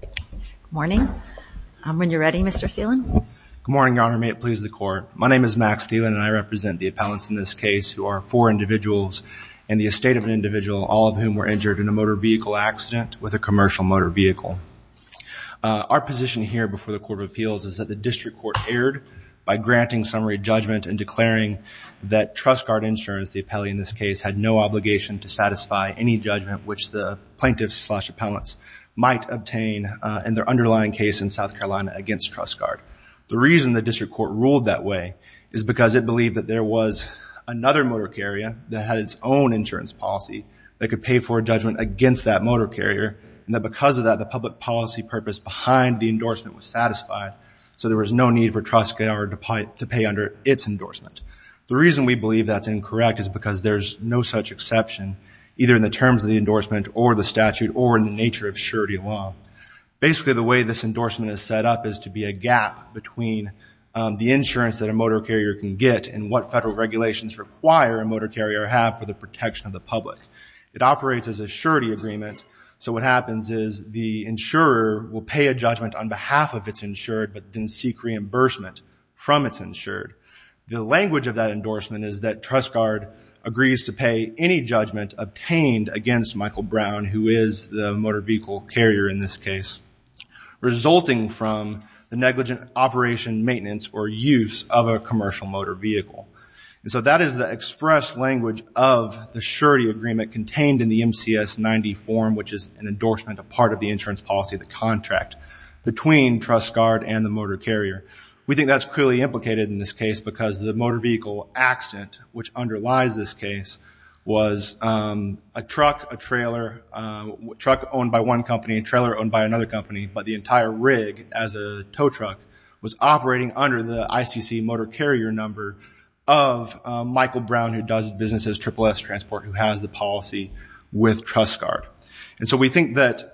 Good morning. When you're ready, Mr. Thielen. Good morning, Your Honor. May it please the Court. My name is Max Thielen and I represent the appellants in this case who are four individuals in the estate of an individual, all of whom were injured in a motor vehicle accident with a commercial motor vehicle. Our position here before the Court of Appeals is that the District Court erred by granting summary judgment and declaring that TrustGard Insurance, the appellee in this case, had no obligation to satisfy any judgment which the plaintiffs slash obtain in their underlying case in South Carolina against TrustGard. The reason the District Court ruled that way is because it believed that there was another motor carrier that had its own insurance policy that could pay for a judgment against that motor carrier and that because of that the public policy purpose behind the endorsement was satisfied so there was no need for TrustGard to pay under its endorsement. The reason we believe that's incorrect is because there's no such exception either in the terms of the law. Basically the way this endorsement is set up is to be a gap between the insurance that a motor carrier can get and what federal regulations require a motor carrier have for the protection of the public. It operates as a surety agreement so what happens is the insurer will pay a judgment on behalf of its insured but didn't seek reimbursement from its insured. The language of that endorsement is that TrustGard agrees to pay any judgment obtained against Michael Brown who is the motor vehicle carrier in this case resulting from the negligent operation maintenance or use of a commercial motor vehicle and so that is the express language of the surety agreement contained in the MCS 90 form which is an endorsement a part of the insurance policy the contract between TrustGard and the motor carrier. We think that's clearly implicated in this case because the motor vehicle accent which underlies this case was a truck owned by one company, a trailer owned by another company but the entire rig as a tow truck was operating under the ICC motor carrier number of Michael Brown who does business as SSS transport who has the policy with TrustGard and so we think that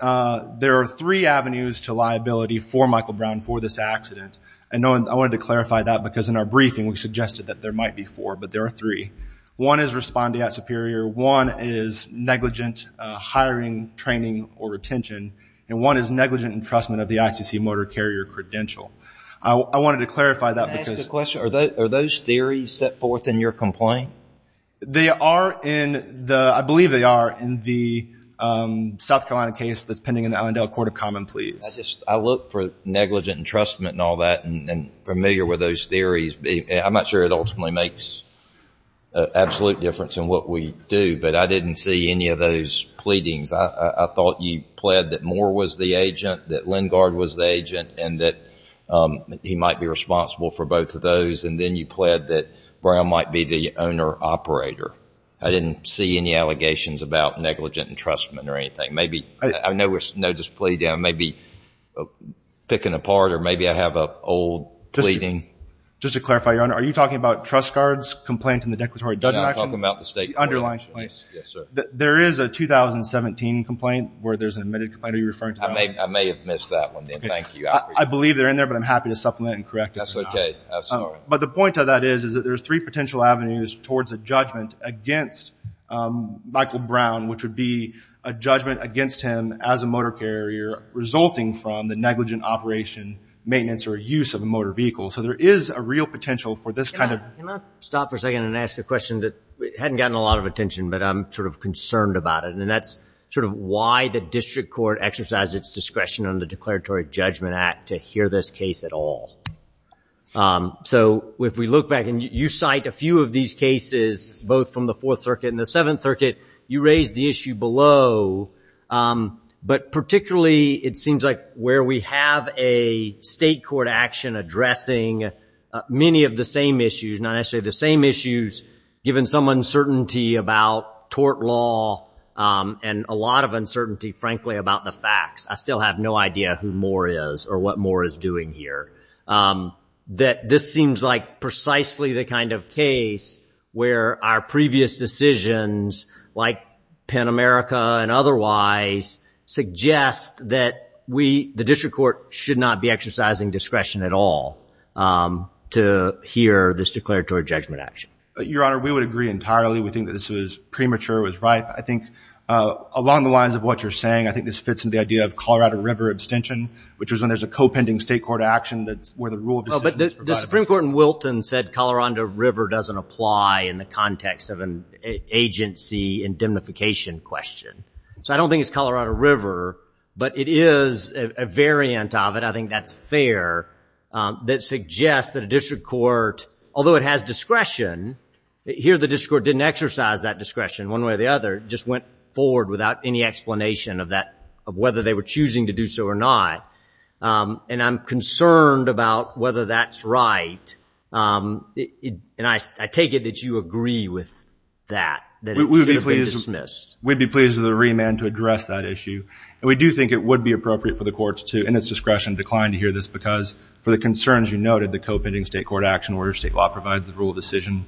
there are three avenues to liability for Michael Brown for this accident and I wanted to clarify that because in our briefing we suggested that there might be four but there are three. One is responding at Superior, one is negligent hiring training or retention and one is negligent entrustment of the ICC motor carrier credential. I wanted to clarify that because... Can I ask a question? Are those theories set forth in your complaint? They are in the, I believe they are in the South Carolina case that's pending in the Allendale Court of Common Pleas. I just, I look for negligent entrustment and all that and familiar with those theories. I'm not sure it ultimately makes an absolute difference in what we do but I didn't see any of those pleadings. I thought you pled that Moore was the agent, that Lengard was the agent and that he might be responsible for both of those and then you pled that Brown might be the owner operator. I didn't see any allegations about negligent entrustment or anything. Maybe, I know this plea may be picking apart or maybe I have an old pleading. Just to clarify, Your Honor, are you talking about TrustGard's complaint in the declaratory judgment action? No, I'm talking about the state court. Yes, sir. There is a 2017 complaint where there's an admitted complaint. Are you referring to that one? I may have missed that one then, thank you. I believe they're in there but I'm happy to supplement and correct it. That's okay, I'm sorry. But the point of that is that there's three potential avenues towards a judgment against Michael Brown which would be a judgment against him as a motor carrier resulting from the negligent operation, maintenance or use of a motor vehicle. So there is a real potential for this kind of... I don't want to draw attention but I'm sort of concerned about it and that's sort of why the district court exercised its discretion under the Declaratory Judgment Act to hear this case at all. So if we look back and you cite a few of these cases both from the Fourth Circuit and the Seventh Circuit, you raised the issue below but particularly it seems like where we have a state court action addressing many of the same issues, not necessarily the same issues, given some uncertainty about tort law and a lot of uncertainty, frankly, about the facts. I still have no idea who Moore is or what Moore is doing here. That this seems like precisely the kind of case where our previous decisions like Pen America and otherwise suggest that we, the district court, should not be exercising discretion at all to hear this Declaratory Judgment Act. Your Honor, we would agree entirely. We think that this was premature, it was right. I think along the lines of what you're saying, I think this fits in the idea of Colorado River abstention which is when there's a co-pending state court action that's where the rule of decision is provided. The Supreme Court in Wilton said Colorado River doesn't apply in the context of an agency indemnification question. So I don't think it's Colorado River, but it is a variant of it, I think that's fair, that suggests that a district court, although it has discretion, here the district court didn't exercise that discretion one way or the other, it just went forward without any explanation of whether they were choosing to do so or not. And I'm concerned about whether that's right. And I take it that you agree with that, that it should have been dismissed. We'd be pleased with the remand to address that issue. And we do think it would be appropriate for the courts to, in its discretion, decline to hear this because for the concerns you noted, the co-pending state court action where state law provides the rule of decision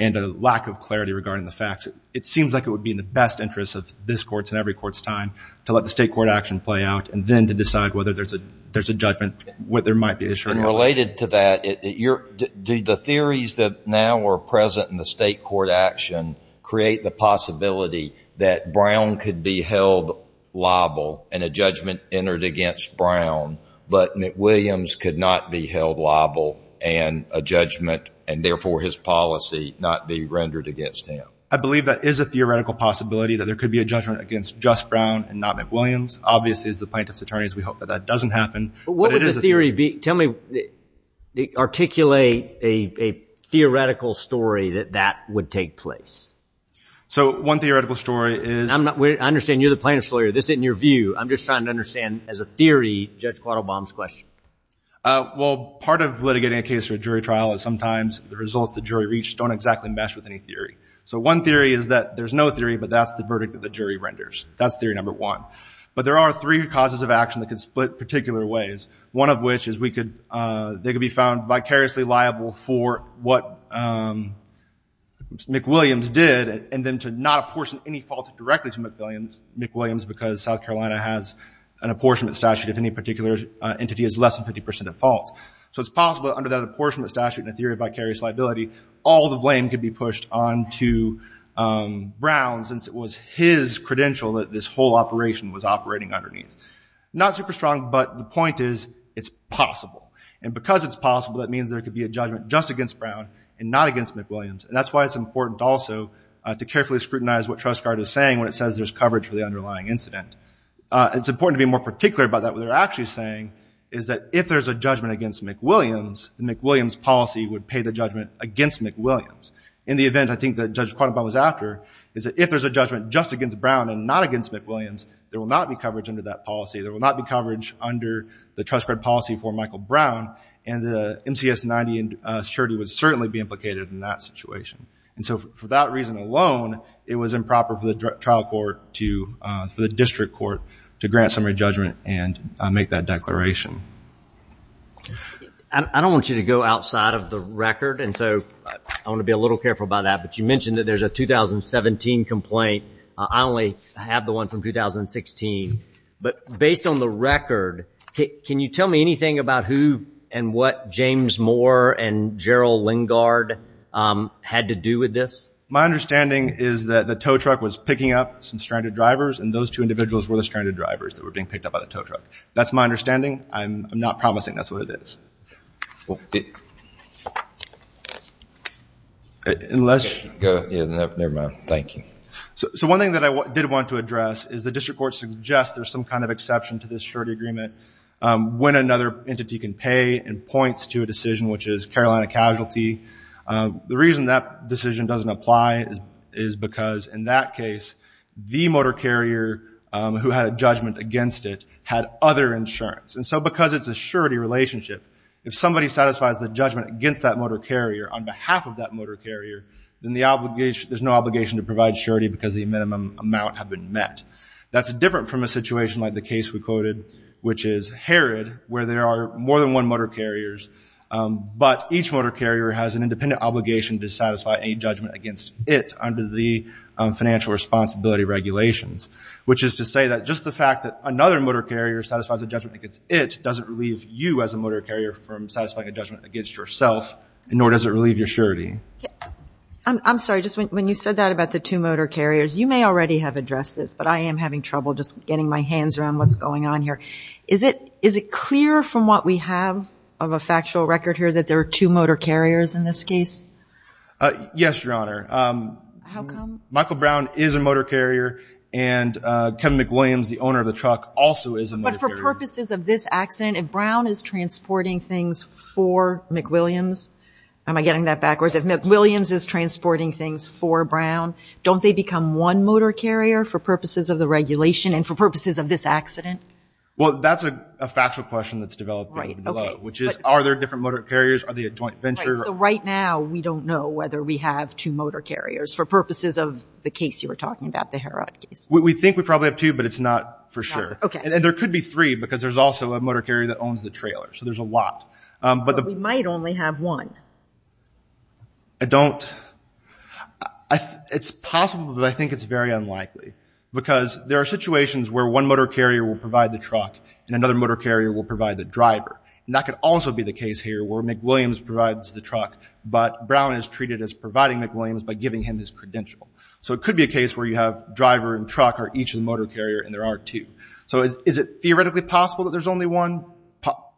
and a lack of clarity regarding the facts, it seems like it would be in the best interest of this court's and every court's time to let the state court action play out and then to decide whether or not it should have been dismissed. And related to that, do the theories that now are present in the state court action create the possibility that Brown could be held liable and a judgment entered against Brown, but McWilliams could not be held liable and a judgment and therefore his policy not be rendered against him? I believe that is a theoretical possibility that there could be a judgment against just Brown and not McWilliams. Obviously, as the plaintiff's attorneys, we hope that that doesn't happen. But what would the theory be? Tell me, articulate a theoretical story that that would take place. So one theoretical story is. I'm not, I understand you're the plaintiff's lawyer. This isn't your view. I'm just trying to understand as a theory, Judge Quattlebaum's question. Well, part of litigating a case for a jury trial is sometimes the results the jury reached don't exactly mesh with any theory. So one theory is that there's no theory, but that's the verdict that the jury renders. That's theory number one. But there are three causes of action that could split particular ways, one of which is they could be found vicariously liable for what McWilliams did and then to not apportion any fault directly to McWilliams because South Carolina has an apportionment statute if any particular entity is left. Less than 50 percent of faults. So it's possible under that apportionment statute in a theory of vicarious liability, all the blame could be pushed on to Brown since it was his credential that this whole operation was operating underneath. Not super strong, but the point is it's possible. And because it's possible, that means there could be a judgment just against Brown and not against McWilliams. And that's why it's important also to carefully scrutinize what Trust Guard is saying when it says there's coverage for the underlying incident. It's important to be more particular about that. What they're actually saying is that if there's a judgment against McWilliams, the McWilliams policy would pay the judgment against McWilliams. In the event, I think that Judge Quadenbaum was after, is that if there's a judgment just against Brown and not against McWilliams, there will not be coverage under that policy. There will not be coverage under the Trust Guard policy for Michael Brown. And the MCS 90 and surety would certainly be implicated in that situation. And so for that reason alone, it was improper for the trial court to, for the district court to grant summary judgment and make that declaration. I don't want you to go outside of the record. And so I want to be a little careful about that. But you mentioned that there's a 2017 complaint. I only have the one from 2016. But based on the record, can you tell me anything about who and what James Moore and Gerald Lingard had to do with this? My understanding is that the tow truck was picking up some stranded drivers. And those two individuals were the stranded drivers that were being picked up by the tow truck. That's my understanding. I'm not promising. That's what it is. Unless you go, never mind. Thank you. So one thing that I did want to address is the district court suggests there's some kind of exception to this surety agreement when another entity can pay and points to a decision, which is Carolina casualty. The reason that decision doesn't apply is because in that case, the motor carrier who had a judgment against it had other insurance. And so because it's a surety relationship, if somebody satisfies the judgment against that motor carrier on behalf of that motor carrier, then there's no obligation to provide surety because the minimum amount have been met. That's different from a situation like the case we quoted, which is Herod, where there are more than one motor carriers. But each motor carrier has an independent obligation to satisfy any judgment against it under the financial responsibility regulations, which is to say that just the fact that another motor carrier satisfies a judgment against it doesn't relieve you as a motor carrier from satisfying a judgment against yourself, nor does it relieve your surety. I'm sorry. Just when you said that about the two motor carriers, you may already have addressed this, but I am having trouble just getting my hands around what's going on here. Is it, is it clear from what we have of a factual record here that there are two motor carriers in this case? Uh, yes, Your Honor. Um, Michael Brown is a motor carrier and, uh, Kevin McWilliams, the owner of the truck also is. But for purposes of this accident, if Brown is transporting things for McWilliams, am I getting that backwards? If McWilliams is transporting things for Brown, don't they become one motor carrier for purposes of the regulation and for purposes of this accident? Well, that's a factual question that's developed below, which is, are there different motor carriers? Are they a joint venture? So right now we don't know whether we have two motor carriers for purposes of the case you were talking about, the Herod case. We think we probably have two, but it's not for sure. Okay. And there could be three because there's also a motor carrier that owns the trailer. So there's a lot. Um, but we might only have one. I don't, it's possible, but I think it's very unlikely because there are situations where one motor carrier will provide the truck and another motor carrier will provide the driver. And that could also be the case here where McWilliams provides the truck, but Brown is treated as providing McWilliams by giving him his credential. So it could be a case where you have driver and truck are each of the motor carrier and there are two. So is it theoretically possible that there's only one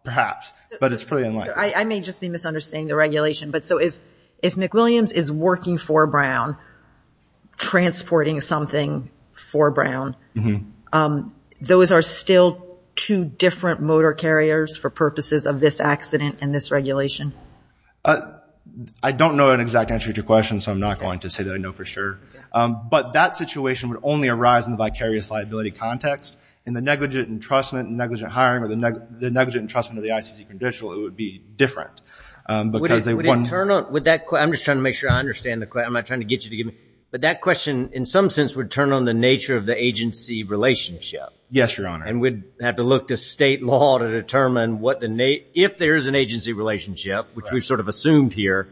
perhaps, but it's pretty unlikely. I may just be misunderstanding the regulation, but so if, if McWilliams is working for Brown, transporting something for Brown, those are still two different motor carriers for purposes of this accident and this regulation. I don't know an exact answer to your question, so I'm not going to say that I know for sure. Um, but that situation would only arise in the vicarious liability context and the negligent entrustment and negligent hiring or the negligent entrustment of the ICC credential. It would be different because they wouldn't turn on with that. I'm just trying to make sure I understand the question. I'm not trying to get you to give me, but that question in some sense would turn on the nature of the agency relationship. Yes, Your Honor. And we'd have to look to state law to determine what the Nate, if there is an agency relationship, which we've sort of assumed here,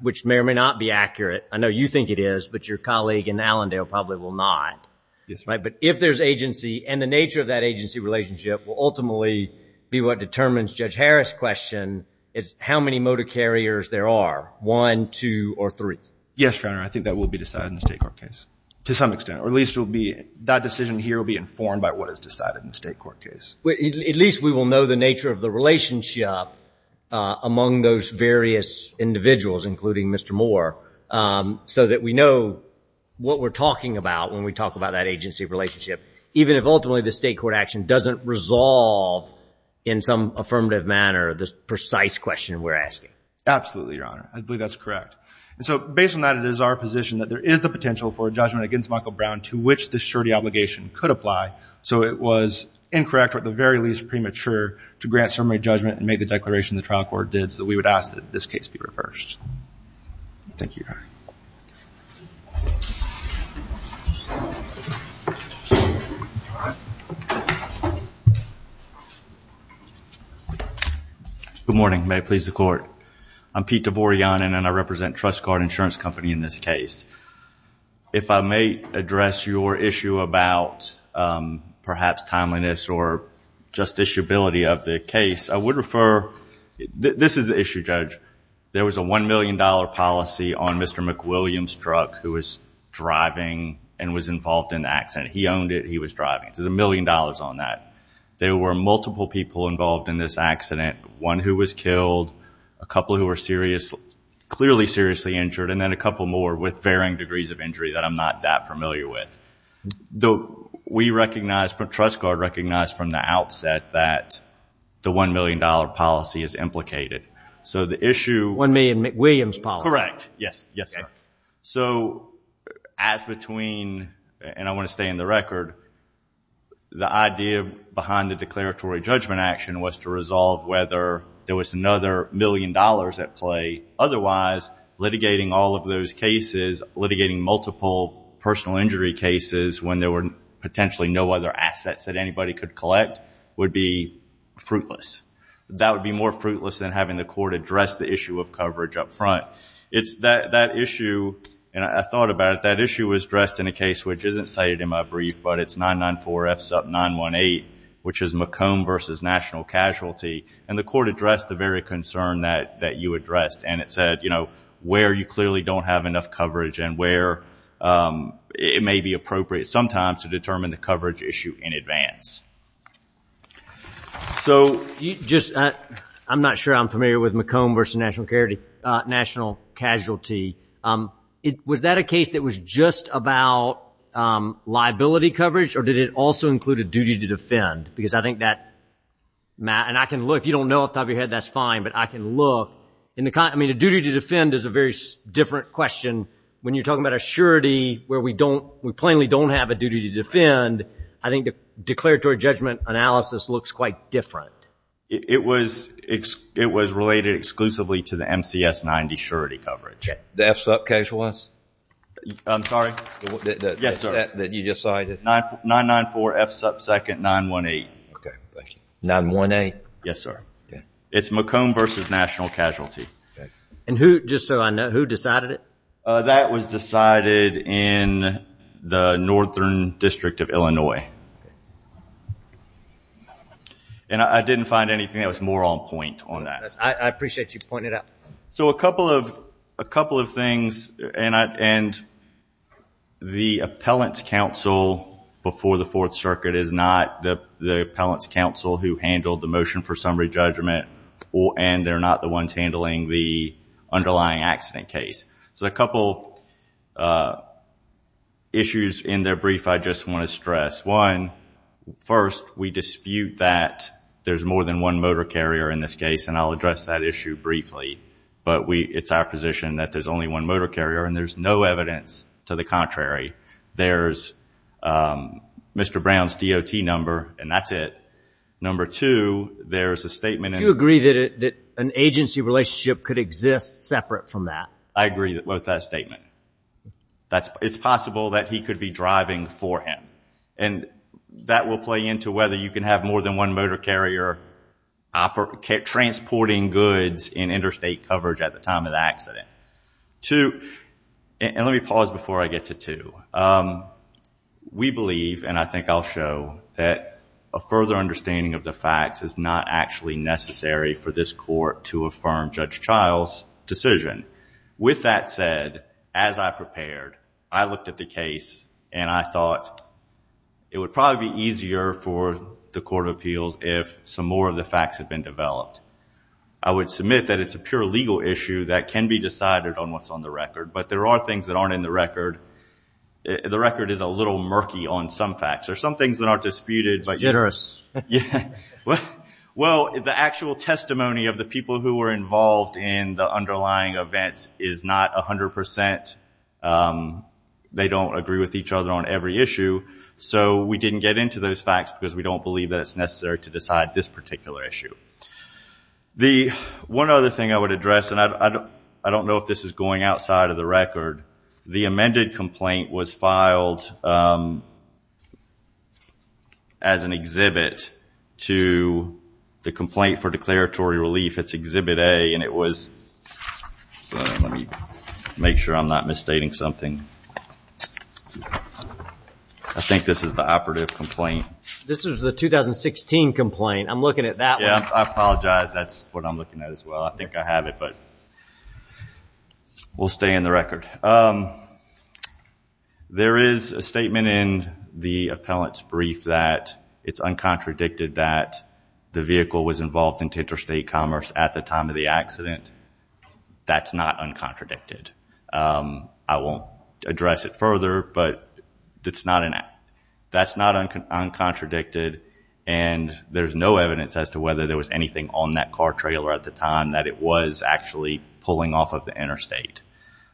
which may or may not be accurate. I know you think it is, but your colleague in Allendale probably will not. Yes. Right. But if there's agency and the nature of that agency relationship will ultimately be what determines Judge Harris question is how many motor carriers there are one, two or three. Yes, Your Honor. I think that will be decided in the state court case to some extent, or at least it will be that decision here will be informed by what is decided in the state court case. At least we will know the nature of the relationship among those various individuals, including Mr. Moore, so that we know what we're talking about when we talk about that agency relationship, even if ultimately the state court action doesn't resolve in some affirmative manner, the precise question we're asking. Absolutely, Your Honor. I believe that's correct. And so based on that, it is our position that there is the potential for a judgment against Michael Brown to which the surety obligation could apply. So it was incorrect, or at the very least premature to grant summary judgment and make the declaration the trial court did so that we would ask that this case be reversed. Thank you, Your Honor. Good morning. May it please the court. I'm Pete Davorian and I represent Trust Guard Insurance Company in this case. If I may address your issue about perhaps timeliness or just issueability of the case, I would refer, this is the issue, Judge. There was a $1 million policy on Mr. McWilliams' truck who was driving and was involved in the accident. He owned it. He was driving. So there's a million dollars on that. There were multiple people involved in this accident, one who was killed, a couple who were clearly seriously injured, and then a couple more with varying degrees of injury that I'm not that familiar with. Though we recognize, Trust Guard recognized from the outset that the $1 million policy is implicated. So the issue... $1 million McWilliams policy. Correct. Yes. Yes, sir. So as between, and I want to stay in the record, the idea behind the declaratory judgment action was to resolve whether there was another million dollars at play. Otherwise, litigating all of those cases, litigating multiple personal injury cases when there were potentially no other assets that anybody could collect, would be fruitless. That would be more fruitless than having the court address the issue of coverage up front. It's that issue, and I thought about it, that issue was addressed in a case which isn't cited in my brief, but it's 994 F SUP 918, which is McComb versus National Casualty. And the court addressed the very concern that you addressed, and it said, you know, where you clearly don't have enough coverage and where it may be appropriate sometimes to determine the coverage issue in advance. So, I'm not sure I'm familiar with McComb versus National Casualty. Was that a case that was just about liability coverage, or did it also include a duty to defend? Because I think that, Matt, and I can look, if you don't know off the top of your head, that's fine, but I can look. I mean, a duty to defend is a very different question. When you're talking about a surety where we don't, we plainly don't have a duty to defend, I think the declaratory judgment analysis looks quite different. It was related exclusively to the MCS 90 surety coverage. The F SUP case was? I'm sorry? Yes, sir. 994 F SUP 2nd 918. 918? Yes, sir. It's McComb versus National Casualty. And who, just so I know, who decided it? That was decided in the Northern District of Illinois. And I didn't find anything that was more on point on that. I appreciate you pointing it out. So a couple of things, and the appellant's counsel before the Fourth Circuit is not the appellant's counsel who handled the motion for summary judgment, and they're not the ones handling the underlying accident case. So a couple issues in their brief I just want to stress. One, first, we dispute that there's more than one motor carrier in this case, and I'll address that issue briefly. But it's our position that there's only one motor carrier, and there's no evidence to the contrary. There's Mr. Brown's DOT number, and that's it. Number two, there's a statement. Do you agree that an agency relationship could exist separate from that? I agree with that statement. It's possible that he could be driving for him. And that will play into whether you can have more than one motor carrier transporting goods in interstate coverage at the time of the accident. Two, and let me pause before I get to two. We believe, and I think I'll show, that a further understanding of the facts is not actually necessary for this court to affirm Judge Child's decision. With that said, as I prepared, I looked at the case, and I thought it would probably be easier for the Court of Appeals if some more of the facts had been developed. I would submit that it's a pure legal issue that can be decided on what's on the record, but there are things that aren't in the record. The record is a little murky on some facts. There's some things that aren't disputed. It's jitterous. Yeah. Well, the actual testimony of the people who were involved in the underlying events is not 100%. They don't agree with each other on every issue, so we didn't get into those facts because we don't believe that it's necessary to decide this particular issue. The one other thing I would address, and I don't know if this is going outside of the record, the amended complaint was filed as an exhibit. To the complaint for declaratory relief, it's Exhibit A, and it was, let me make sure I'm not misstating something. I think this is the operative complaint. This is the 2016 complaint. I'm looking at that one. Yeah, I apologize. That's what I'm looking at as well. I think I have it, but we'll stay in the record. All right. There is a statement in the appellant's brief that it's uncontradicted that the vehicle was involved in interstate commerce at the time of the accident. That's not uncontradicted. I won't address it further, but that's not uncontradicted, and there's no evidence as to whether there was anything on that car trailer at the time that it was actually pulling off of the interstate.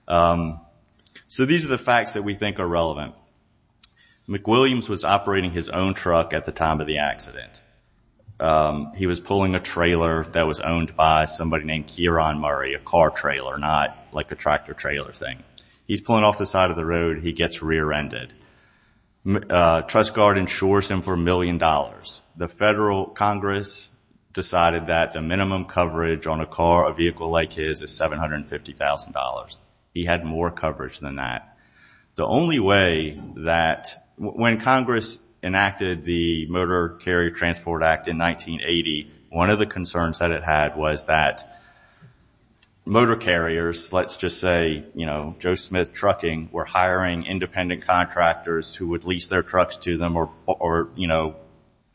So these are the facts that we think are relevant. McWilliams was operating his own truck at the time of the accident. He was pulling a trailer that was owned by somebody named Kieron Murray, a car trailer, not like a tractor trailer thing. He's pulling off the side of the road. He gets rear-ended. Trust Guard insures him for a million dollars. The Federal Congress decided that the minimum coverage on a car, a vehicle like his, is $750,000. He had more coverage than that. The only way that... When Congress enacted the Motor Carrier Transport Act in 1980, one of the concerns that it had was that motor carriers, let's just say Joe Smith Trucking, were hiring independent contractors who would lease their trucks to them, or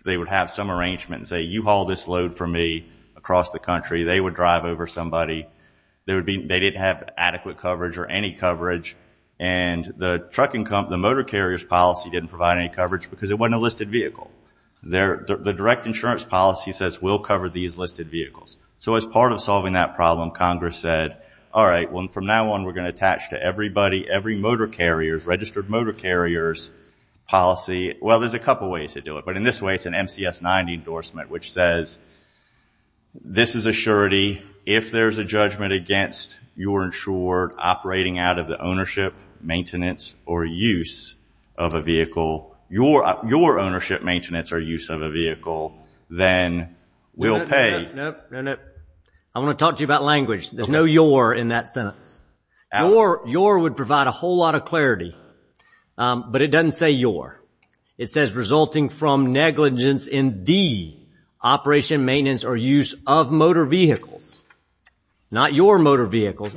they would have some arrangement and say, you haul this load for me across the country. They would drive over somebody. They didn't have adequate coverage or any coverage. And the trucking company, the motor carrier's policy didn't provide any coverage because it wasn't a listed vehicle. The direct insurance policy says, we'll cover these listed vehicles. So as part of solving that problem, Congress said, all right, from now on, we're going to attach to everybody, every motor carrier's, registered motor carrier's policy... Well, there's a couple ways to do it. But in this way, it's an MCS 90 endorsement, which says, this is a surety. If there's a judgment against your insured operating out of the ownership, maintenance, or use of a vehicle, your ownership, maintenance, or use of a vehicle, then we'll pay. No, no, no. I want to talk to you about language. There's no your in that sentence. Your would provide a whole lot of clarity. But it doesn't say your. It says, resulting from negligence in the operation, maintenance, or use of motor vehicles. Not your motor vehicles.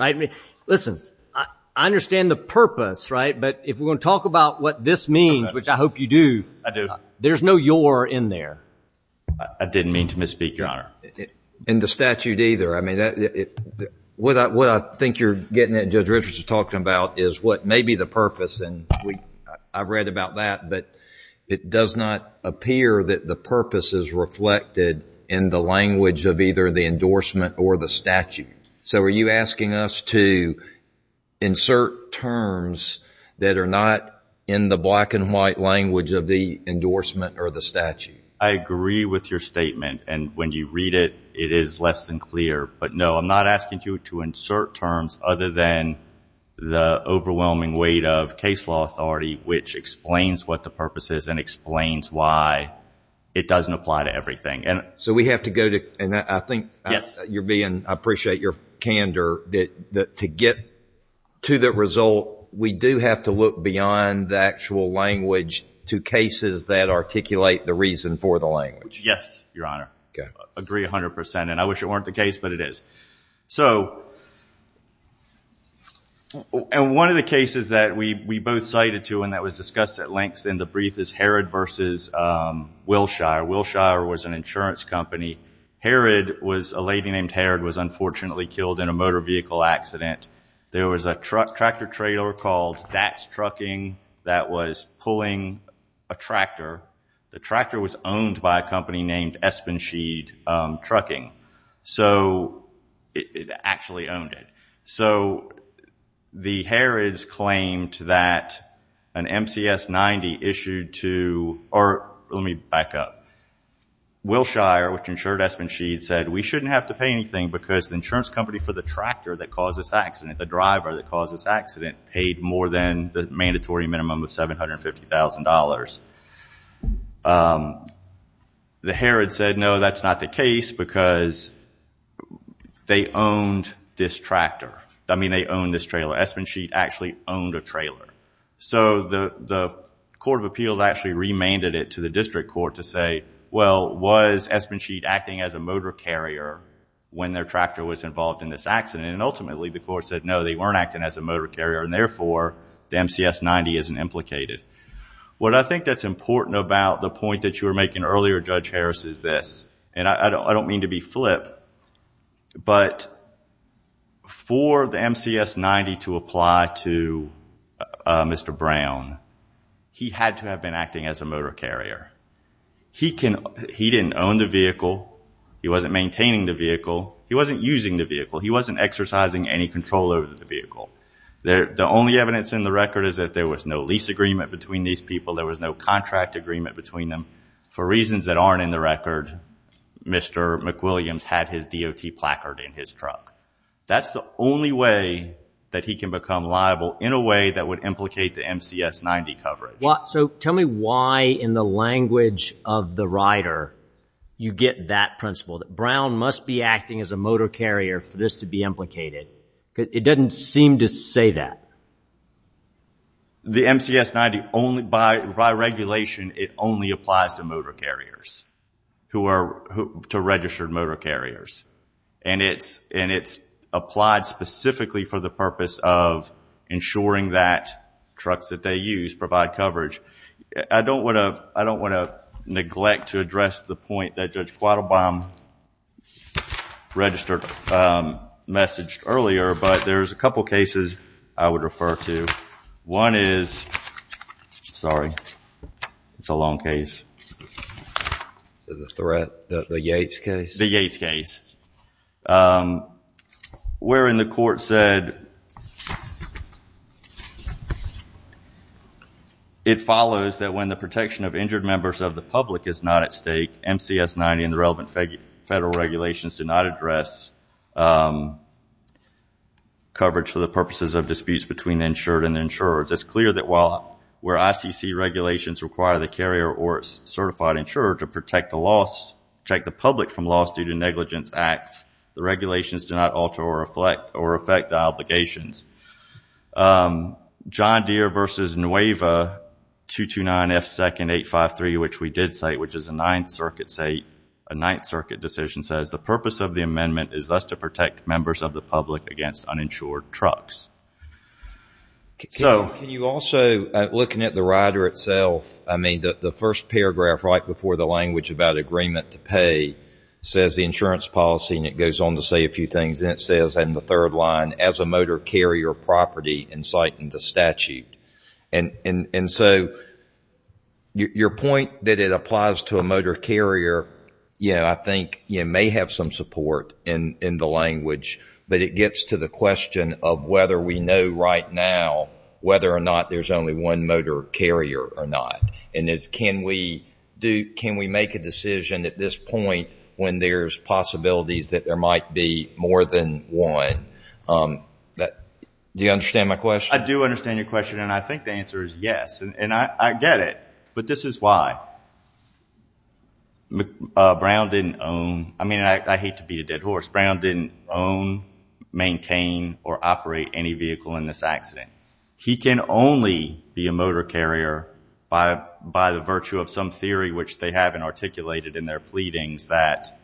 Listen, I understand the purpose, right? But if we're going to talk about what this means, which I hope you do... I do. There's no your in there. I didn't mean to misspeak, Your Honor. In the statute either. I mean, what I think you're getting at, and Judge Richards is talking about, is what may be the purpose. And I've read about that. But it does not appear that the purpose is reflected in the language of either the endorsement or the statute. So, are you asking us to insert terms that are not in the black and white language of the endorsement or the statute? I agree with your statement. And when you read it, it is less than clear. But no, I'm not asking you to insert terms other than the overwhelming weight of case law authority, which explains what the purpose is and explains why it doesn't apply to everything. So, we have to go to... And I think you're being... I appreciate your candor that to get to the result, we do have to look beyond the actual language to cases that articulate the reason for the language. Yes, Your Honor. Agree 100%. And I wish it weren't the case, but it is. So, and one of the cases that we both cited to and that was discussed at length in the brief is Herod versus Wilshire. Wilshire was an insurance company. Herod was... A lady named Herod was unfortunately killed in a motor vehicle accident. There was a tractor trailer called Dax Trucking that was pulling a tractor. The tractor was owned by a company named Espensheed Trucking. So, it actually owned it. So, the Herods claimed that an MCS 90 issued to... Or let me back up. Wilshire, which insured Espensheed said, we shouldn't have to pay anything because the insurance company for the tractor that caused this accident, the driver that caused this accident paid more than the mandatory minimum of $750,000. The Herods said, no, that's not the case because they owned this tractor. I mean, they owned this trailer. Espensheed actually owned a trailer. So, the Court of Appeals actually remanded it to the district court to say, well, was Espensheed acting as a motor carrier when their tractor was involved in this accident? And ultimately, the court said, no, they weren't acting as a motor carrier. And therefore, the MCS 90 isn't implicated. What I think that's important about the point that you were making earlier, Judge Harris, is this. And I don't mean to be flip, but for the MCS 90 to apply to Mr. Brown, he had to have been acting as a motor carrier. He didn't own the vehicle. He wasn't using the vehicle. He wasn't exercising any control over the vehicle. The only evidence in the record is that there was no lease agreement between these people. There was no contract agreement between them. For reasons that aren't in the record, Mr. McWilliams had his DOT placard in his truck. That's the only way that he can become liable in a way that would implicate the MCS 90 coverage. So, tell me why, in the language of the rider, you get that principle, that Brown must be acting as a motor carrier for this to be implicated. It doesn't seem to say that. The MCS 90, by regulation, it only applies to motor carriers, to registered motor carriers. And it's applied specifically for the purpose of ensuring that trucks that they use provide coverage. I don't want to neglect to address the point that Judge Quattlebaum registered, messaged earlier, but there's a couple cases I would refer to. One is, sorry, it's a long case. The threat, the Yates case? The Yates case. Wherein the court said, it follows that when the protection of injured members of the public is not at stake, MCS 90 and the relevant federal regulations do not address coverage for the purposes of disputes between the insured and the insurers. It's clear that while, where ICC regulations require the carrier or its certified insurer to protect the loss, protect the public from loss due to negligence acts, the regulations do not alter or reflect or affect the obligations. John Deere v. Nueva 229 F. 2nd 853, which we did cite, which is a Ninth Circuit state, a Ninth Circuit decision says, the purpose of the amendment is thus to protect members of the public against uninsured trucks. Can you also, looking at the rider itself, I mean, the first paragraph right before the language about agreement to pay says the insurance policy, and it goes on to say a few things, and it says in the third line, as a motor carrier property, inciting the statute. And so your point that it applies to a motor carrier, yeah, I think you may have some support in the language, but it gets to the question of whether we know right now whether or not there's only one motor carrier or not. Can we make a decision at this point when there's possibilities that there might be more than one? Do you understand my question? I do understand your question, and I think the answer is yes, and I get it. But this is why. Brown didn't own, I mean, I hate to beat a dead horse, Brown didn't own, maintain, or operate any vehicle in this accident. He can only be a motor carrier by the virtue of some theory, which they haven't articulated in their pleadings, that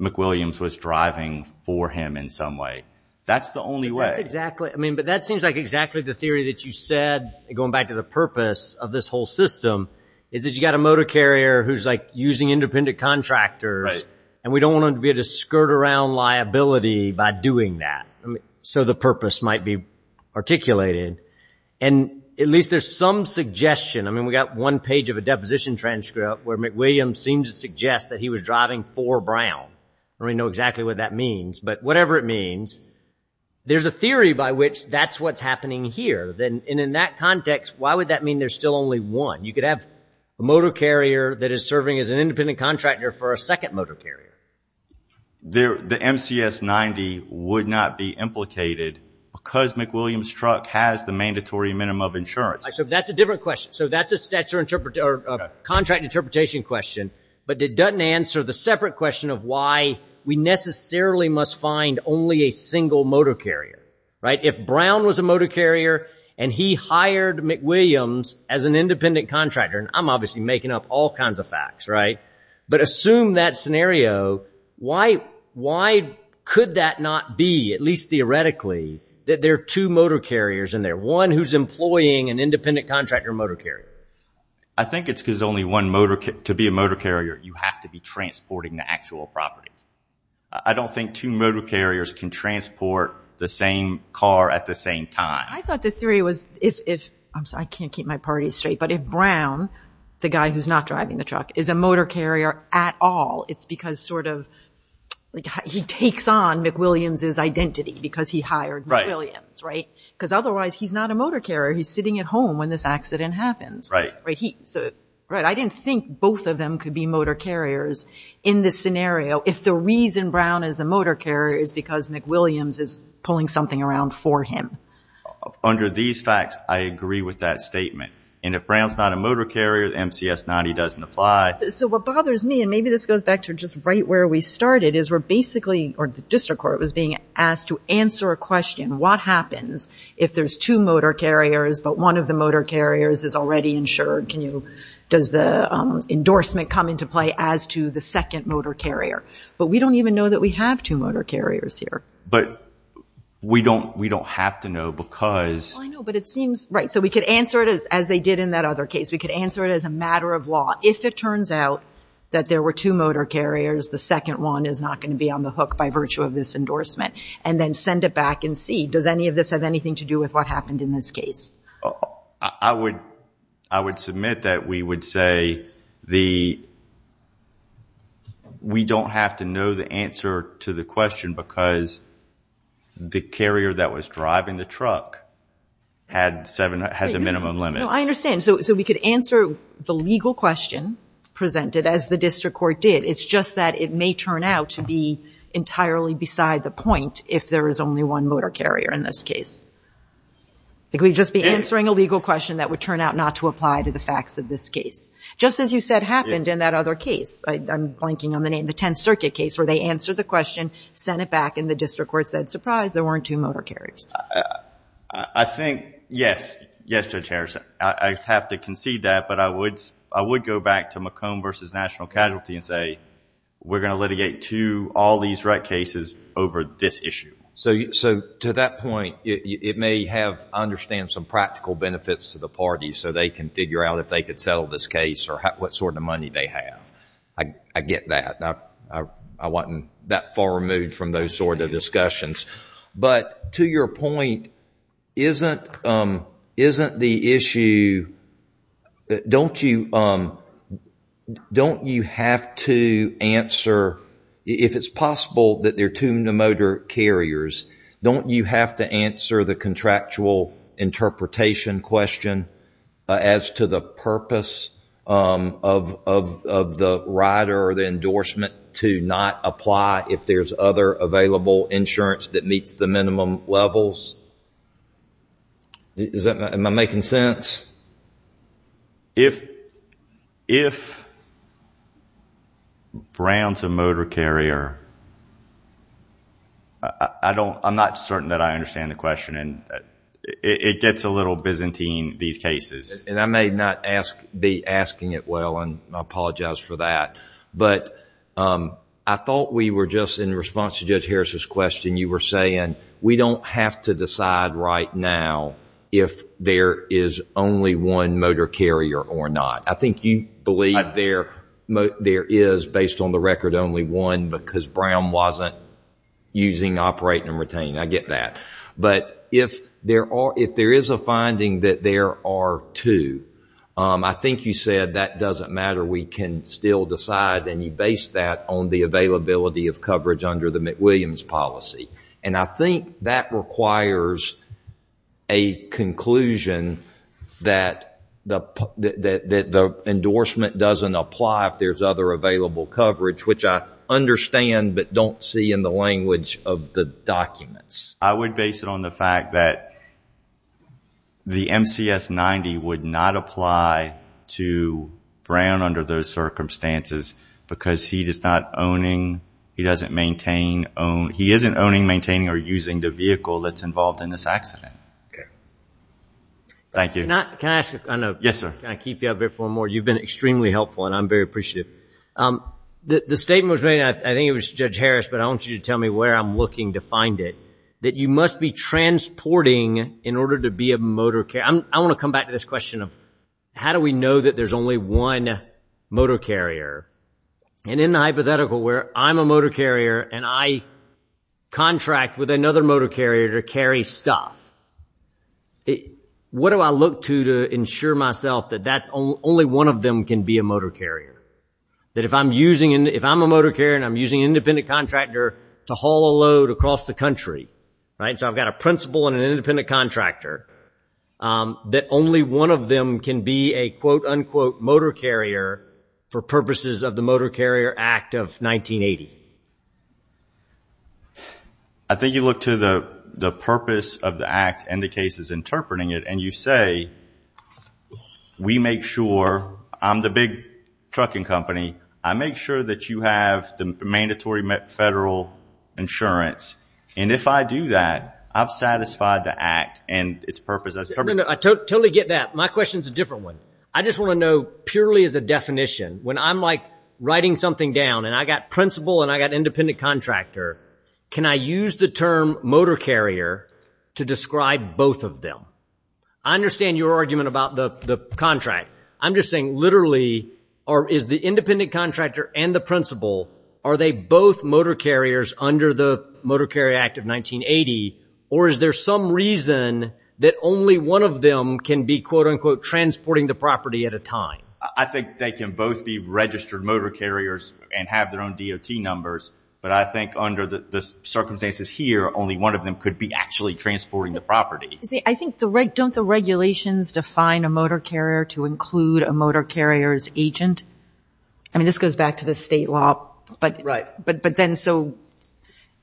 McWilliams was driving for him in some way. That's the only way. That's exactly, I mean, but that seems like exactly the theory that you said, going back to the purpose of this whole system, is that you got a motor carrier who's like using independent contractors, and we don't want them to be able to skirt around liability by doing that. So the purpose might be articulated. And at least there's some suggestion, I mean, we got one page of a deposition transcript where McWilliams seems to suggest that he was driving for Brown. I don't know exactly what that means, but whatever it means, there's a theory by which that's what's happening here. Then in that context, why would that mean there's still only one? You could have a motor carrier that is serving as an independent contractor for a second motor carrier. The MCS-90 would not be implicated because McWilliams' truck has the mandatory minimum of insurance. That's a different question. So that's a contract interpretation question, but it doesn't answer the separate question of why we necessarily must find only a single motor carrier, right? If Brown was a motor carrier, and he hired McWilliams as an independent contractor, and I'm obviously making up all kinds of facts, right? But assume that scenario, why could that not be, at least theoretically, that there are two motor carriers in there, one who's employing an independent contractor motor carrier? I think it's because only one motor, to be a motor carrier, you have to be transporting the actual property. I don't think two motor carriers can transport the same car at the same time. I thought the theory was if, I'm sorry, I can't keep my party straight, but if Brown, the guy who's not driving the truck, is a motor carrier at all, it's because he takes on McWilliams' identity because he hired McWilliams, right? Because otherwise, he's not a motor carrier. He's sitting at home when this accident happens. I didn't think both of them could be motor carriers in this scenario if the reason Brown is a motor carrier is because McWilliams is pulling something around for him. Under these facts, I agree with that statement. And if Brown's not a motor carrier, MCS 90 doesn't apply. So what bothers me, and maybe this goes back to just right where we started, is we're basically, or the district court was being asked to answer a question, what happens if there's two motor carriers, but one of the motor carriers is already insured? Does the endorsement come into play as to the second motor carrier? But we don't even know that we have two motor carriers here. But we don't have to know because... I know, but it seems right. So we could answer it as they did in that other case. We could answer it as a matter of law. If it turns out that there were two motor carriers, the second one is not going to be on the hook by virtue of this endorsement and then send it back and see. Does any of this have anything to do with what happened in this case? I would submit that we would say we don't have to know the answer to the question because the carrier that was driving the truck had the minimum limit. No, I understand. So we could answer the legal question presented as the district court did. It's just that it may turn out to be entirely beside the point if there is only one motor carrier in this case. We'd just be answering a legal question that would turn out not to apply to the facts of this case. Just as you said happened in that other case. I'm blanking on the name. The 10th Circuit case where they answered the question, sent it back, and the district court said, surprise, there weren't two motor carriers. I think, yes. Yes, Judge Harris. I have to concede that. But I would go back to McComb v. National Casualty and say, we're going to litigate two, all these wreck cases over this issue. So to that point, it may have, I understand, some practical benefits to the party so they can figure out if they could settle this case or what sort of money they have. I get that. I wasn't that far removed from those sort of discussions. But to your point, isn't the issue, don't you have to answer, if it's possible that there are two motor carriers, don't you have to answer the contractual interpretation question as to the purpose of the rider or the endorsement to not apply if there's other available insurance that meets the minimum levels? Am I making sense? If Brown's a motor carrier, I'm not certain that I understand the question. It gets a little Byzantine, these cases. I may not be asking it well, and I apologize for that. But I thought we were just, in response to Judge Harris' question, you were saying, we don't have to decide right now if there is only one motor carrier or not. I think you believe there is, based on the record, only one because Brown wasn't using, operating, and retaining. I get that. But if there is a finding that there are two, I think you said that doesn't matter. We can still decide. And you base that on the availability of coverage under the McWilliams policy. And I think that requires a conclusion that the endorsement doesn't apply if there's other available coverage, I would base it on the fact that the MCS-90 would not apply to Brown under those circumstances because he is not owning, he doesn't maintain, he isn't owning, maintaining, or using the vehicle that's involved in this accident. Thank you. Can I ask a kind of, can I keep you up there for more? You've been extremely helpful, and I'm very appreciative. The statement was made, I think it was Judge Harris, but I want you to tell me where I'm looking to find it. That you must be transporting in order to be a motor carrier. I want to come back to this question of how do we know that there's only one motor carrier? And in the hypothetical where I'm a motor carrier and I contract with another motor carrier to carry stuff, what do I look to to ensure myself that that's, only one of them can be a motor carrier? That if I'm using, if I'm a motor carrier and I'm using an independent contractor to haul a load across the country, so I've got a principal and an independent contractor, that only one of them can be a, quote unquote, motor carrier for purposes of the Motor Carrier Act of 1980? I think you look to the purpose of the act and the cases interpreting it, and you say, we make sure, I'm the big trucking company, I make sure that you have the mandatory federal insurance. And if I do that, I've satisfied the act and its purpose. I totally get that. My question is a different one. I just want to know purely as a definition, when I'm like writing something down and I got principal and I got independent contractor, can I use the term motor carrier to describe both of them? I understand your argument about the contract. I'm just saying literally, or is the independent contractor and the principal, are they both motor carriers under the Motor Carrier Act of 1980? Or is there some reason that only one of them can be, quote unquote, transporting the property at a time? I think they can both be registered motor carriers and have their own DOT numbers. But I think under the circumstances here, only one of them could be actually transporting the property. I think, don't the regulations define a motor carrier to include a motor carrier's agent? I mean, this goes back to the state law. But then, so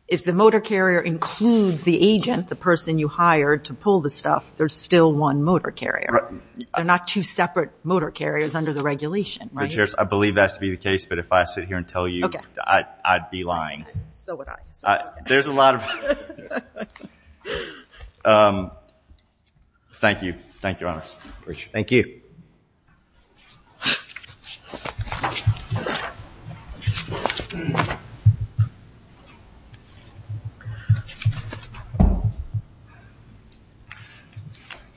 if the motor carrier includes the agent, the person you hired to pull the stuff, there's still one motor carrier. They're not two separate motor carriers under the regulation, right? The Chair, I believe that's to be the case. But if I sit here and tell you, I'd be lying. So would I. There's a lot of... Thank you. Thank you, Your Honor. Appreciate it. Thank you. Thank you.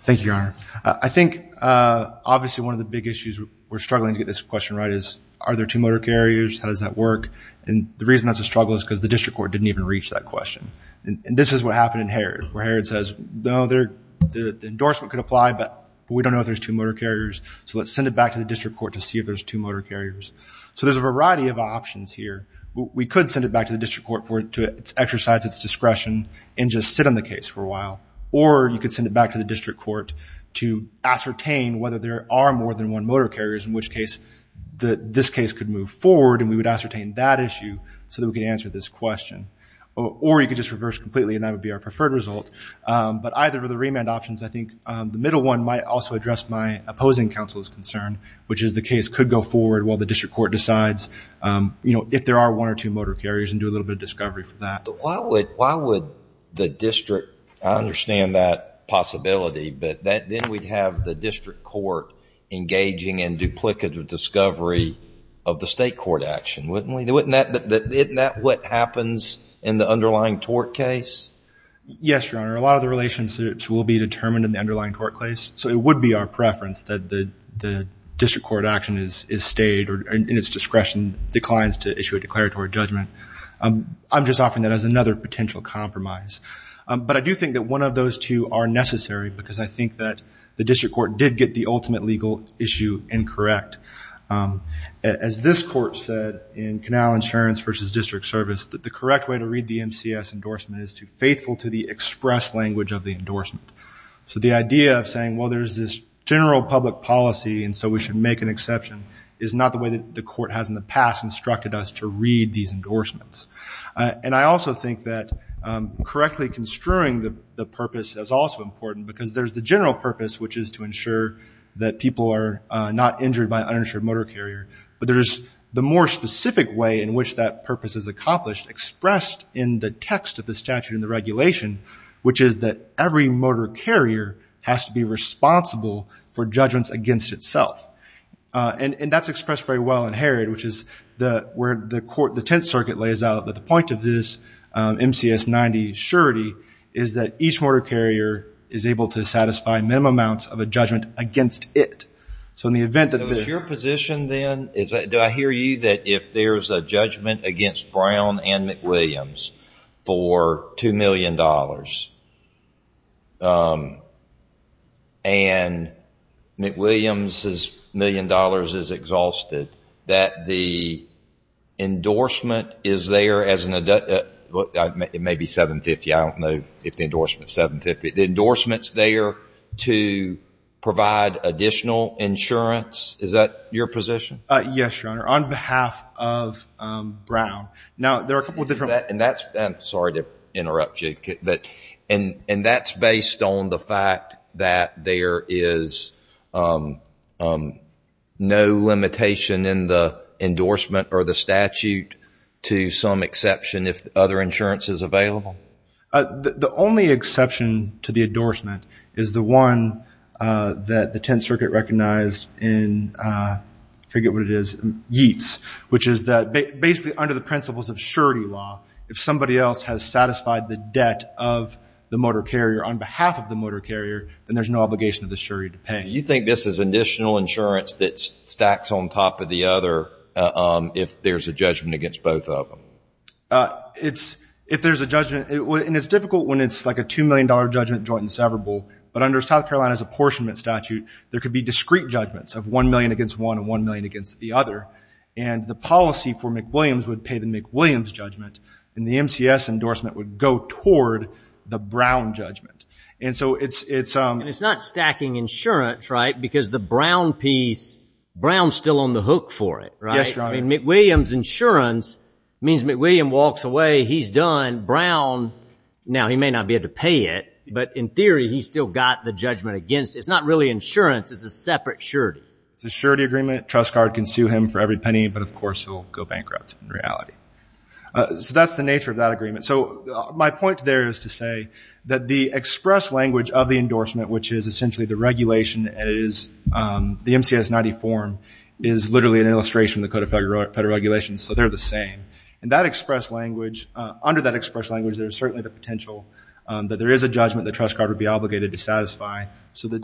Thank you, Your Honor. I think, obviously, one of the big issues we're struggling to get this question right is, are there two motor carriers? How does that work? And the reason that's a struggle is because the district court didn't even reach that question. And this is what happened in Harrod, where Harrod says, no, the endorsement could apply. But we don't know if there's two motor carriers. So let's send it back to the district court to see if there's two motor carriers. So there's a variety of options here. We could send it back to the district court for it to exercise its discretion and just sit on the case for a while. Or you could send it back to the district court to ascertain whether there are more than one motor carriers, in which case this case could move forward and we would ascertain that issue so that we could answer this question. Or you could just reverse completely and that would be our preferred result. But either of the remand options, I think the middle one might also address my opposing counsel's concern, which is the case could go forward while the district court decides if there are one or two motor carriers and do a little bit of discovery for that. But why would the district, I understand that possibility, but then we'd have the district court engaging in duplicative discovery of the state court action, wouldn't we? Isn't that what happens in the underlying tort case? Yes, Your Honor. A lot of the relationships will be determined in the underlying tort case. So it would be our preference that the district court action is stayed or in its discretion declines to issue a declaratory judgment. I'm just offering that as another potential compromise. But I do think that one of those two are necessary because I think that the district court did get the ultimate legal issue incorrect. As this court said in Canal Insurance versus District Service, that the correct way to read the MCS endorsement is to faithful to the express language of the endorsement. So the idea of saying, well, there's this general public policy and so we should make an exception is not the way that the court has in the past instructed us to read these endorsements. And I also think that correctly construing the purpose is also important because there's the general purpose, which is to ensure that people are not injured by an uninsured motor carrier. But there's the more specific way in which that purpose is accomplished expressed in the text of the statute and the regulation, which is that every motor carrier has to be responsible for judgments against itself. And that's expressed very well in Herod, which is where the Tenth Circuit lays out that the point of this MCS 90 surety is that each motor carrier is able to satisfy minimum amounts of a judgment against it. So in the event that the- Is your position then, do I hear you that if there's a judgment against Brown and McWilliams for $2 million, and McWilliams' million dollars is exhausted, that the endorsement is there as an- It may be 750. I don't know if the endorsement's 750. The endorsement's there to provide additional insurance. Is that your position? Yes, Your Honor. On behalf of Brown. Now, there are a couple of different- And that's- I'm sorry to interrupt you. And that's based on the fact that there is no limitation in the endorsement or the statute to some exception if other insurance is available? The only exception to the endorsement is the one that the Tenth Circuit recognized in- I forget what it is. Yeats. Which is that, basically under the principles of surety law, if somebody else has satisfied the debt of the motor carrier on behalf of the motor carrier, then there's no obligation of the surety to pay. You think this is additional insurance that stacks on top of the other if there's a judgment against both of them? It's- If there's a judgment- And it's difficult when it's like a $2 million judgment joint and severable. But under South Carolina's apportionment statute, there could be discrete judgments of $1 million against one and $1 million against the other. And the policy for McWilliams would pay the McWilliams judgment. The MCS endorsement would go toward the Brown judgment. And so it's- And it's not stacking insurance, right? Because the Brown piece, Brown's still on the hook for it, right? Yes, Your Honor. McWilliams insurance means McWilliam walks away, he's done. Brown, now he may not be able to pay it, but in theory, he's still got the judgment against it. It's not really insurance. It's a separate surety. It's a surety agreement. Trust card can sue him for every penny, but of course he'll go bankrupt in reality. So that's the nature of that agreement. So my point there is to say that the express language of the endorsement, which is essentially the regulation and it is the MCS 90 form is literally an illustration of the Code of Federal Regulations. So they're the same. And that express language, under that express language, there's certainly the potential that there is a judgment the trust card would be obligated to satisfy. So the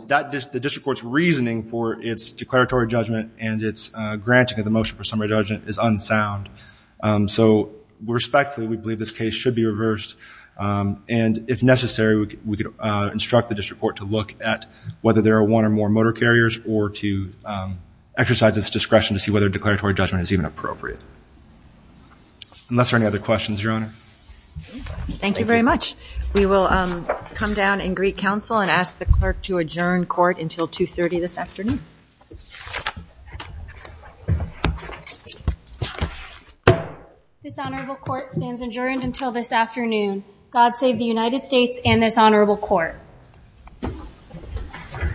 district court's reasoning for its declaratory judgment and its granting of the motion for summary judgment is unsound. So respectfully, we believe this case should be reversed. And if necessary, we could instruct the district court to look at whether there are one or more motor carriers or to exercise its discretion to see whether declaratory judgment is even appropriate. Unless there are any other questions, Your Honor. Thank you very much. We will come down and greet counsel and ask the clerk to adjourn court until 2.30 this afternoon. This honorable court stands adjourned until this afternoon. God save the United States and this honorable court.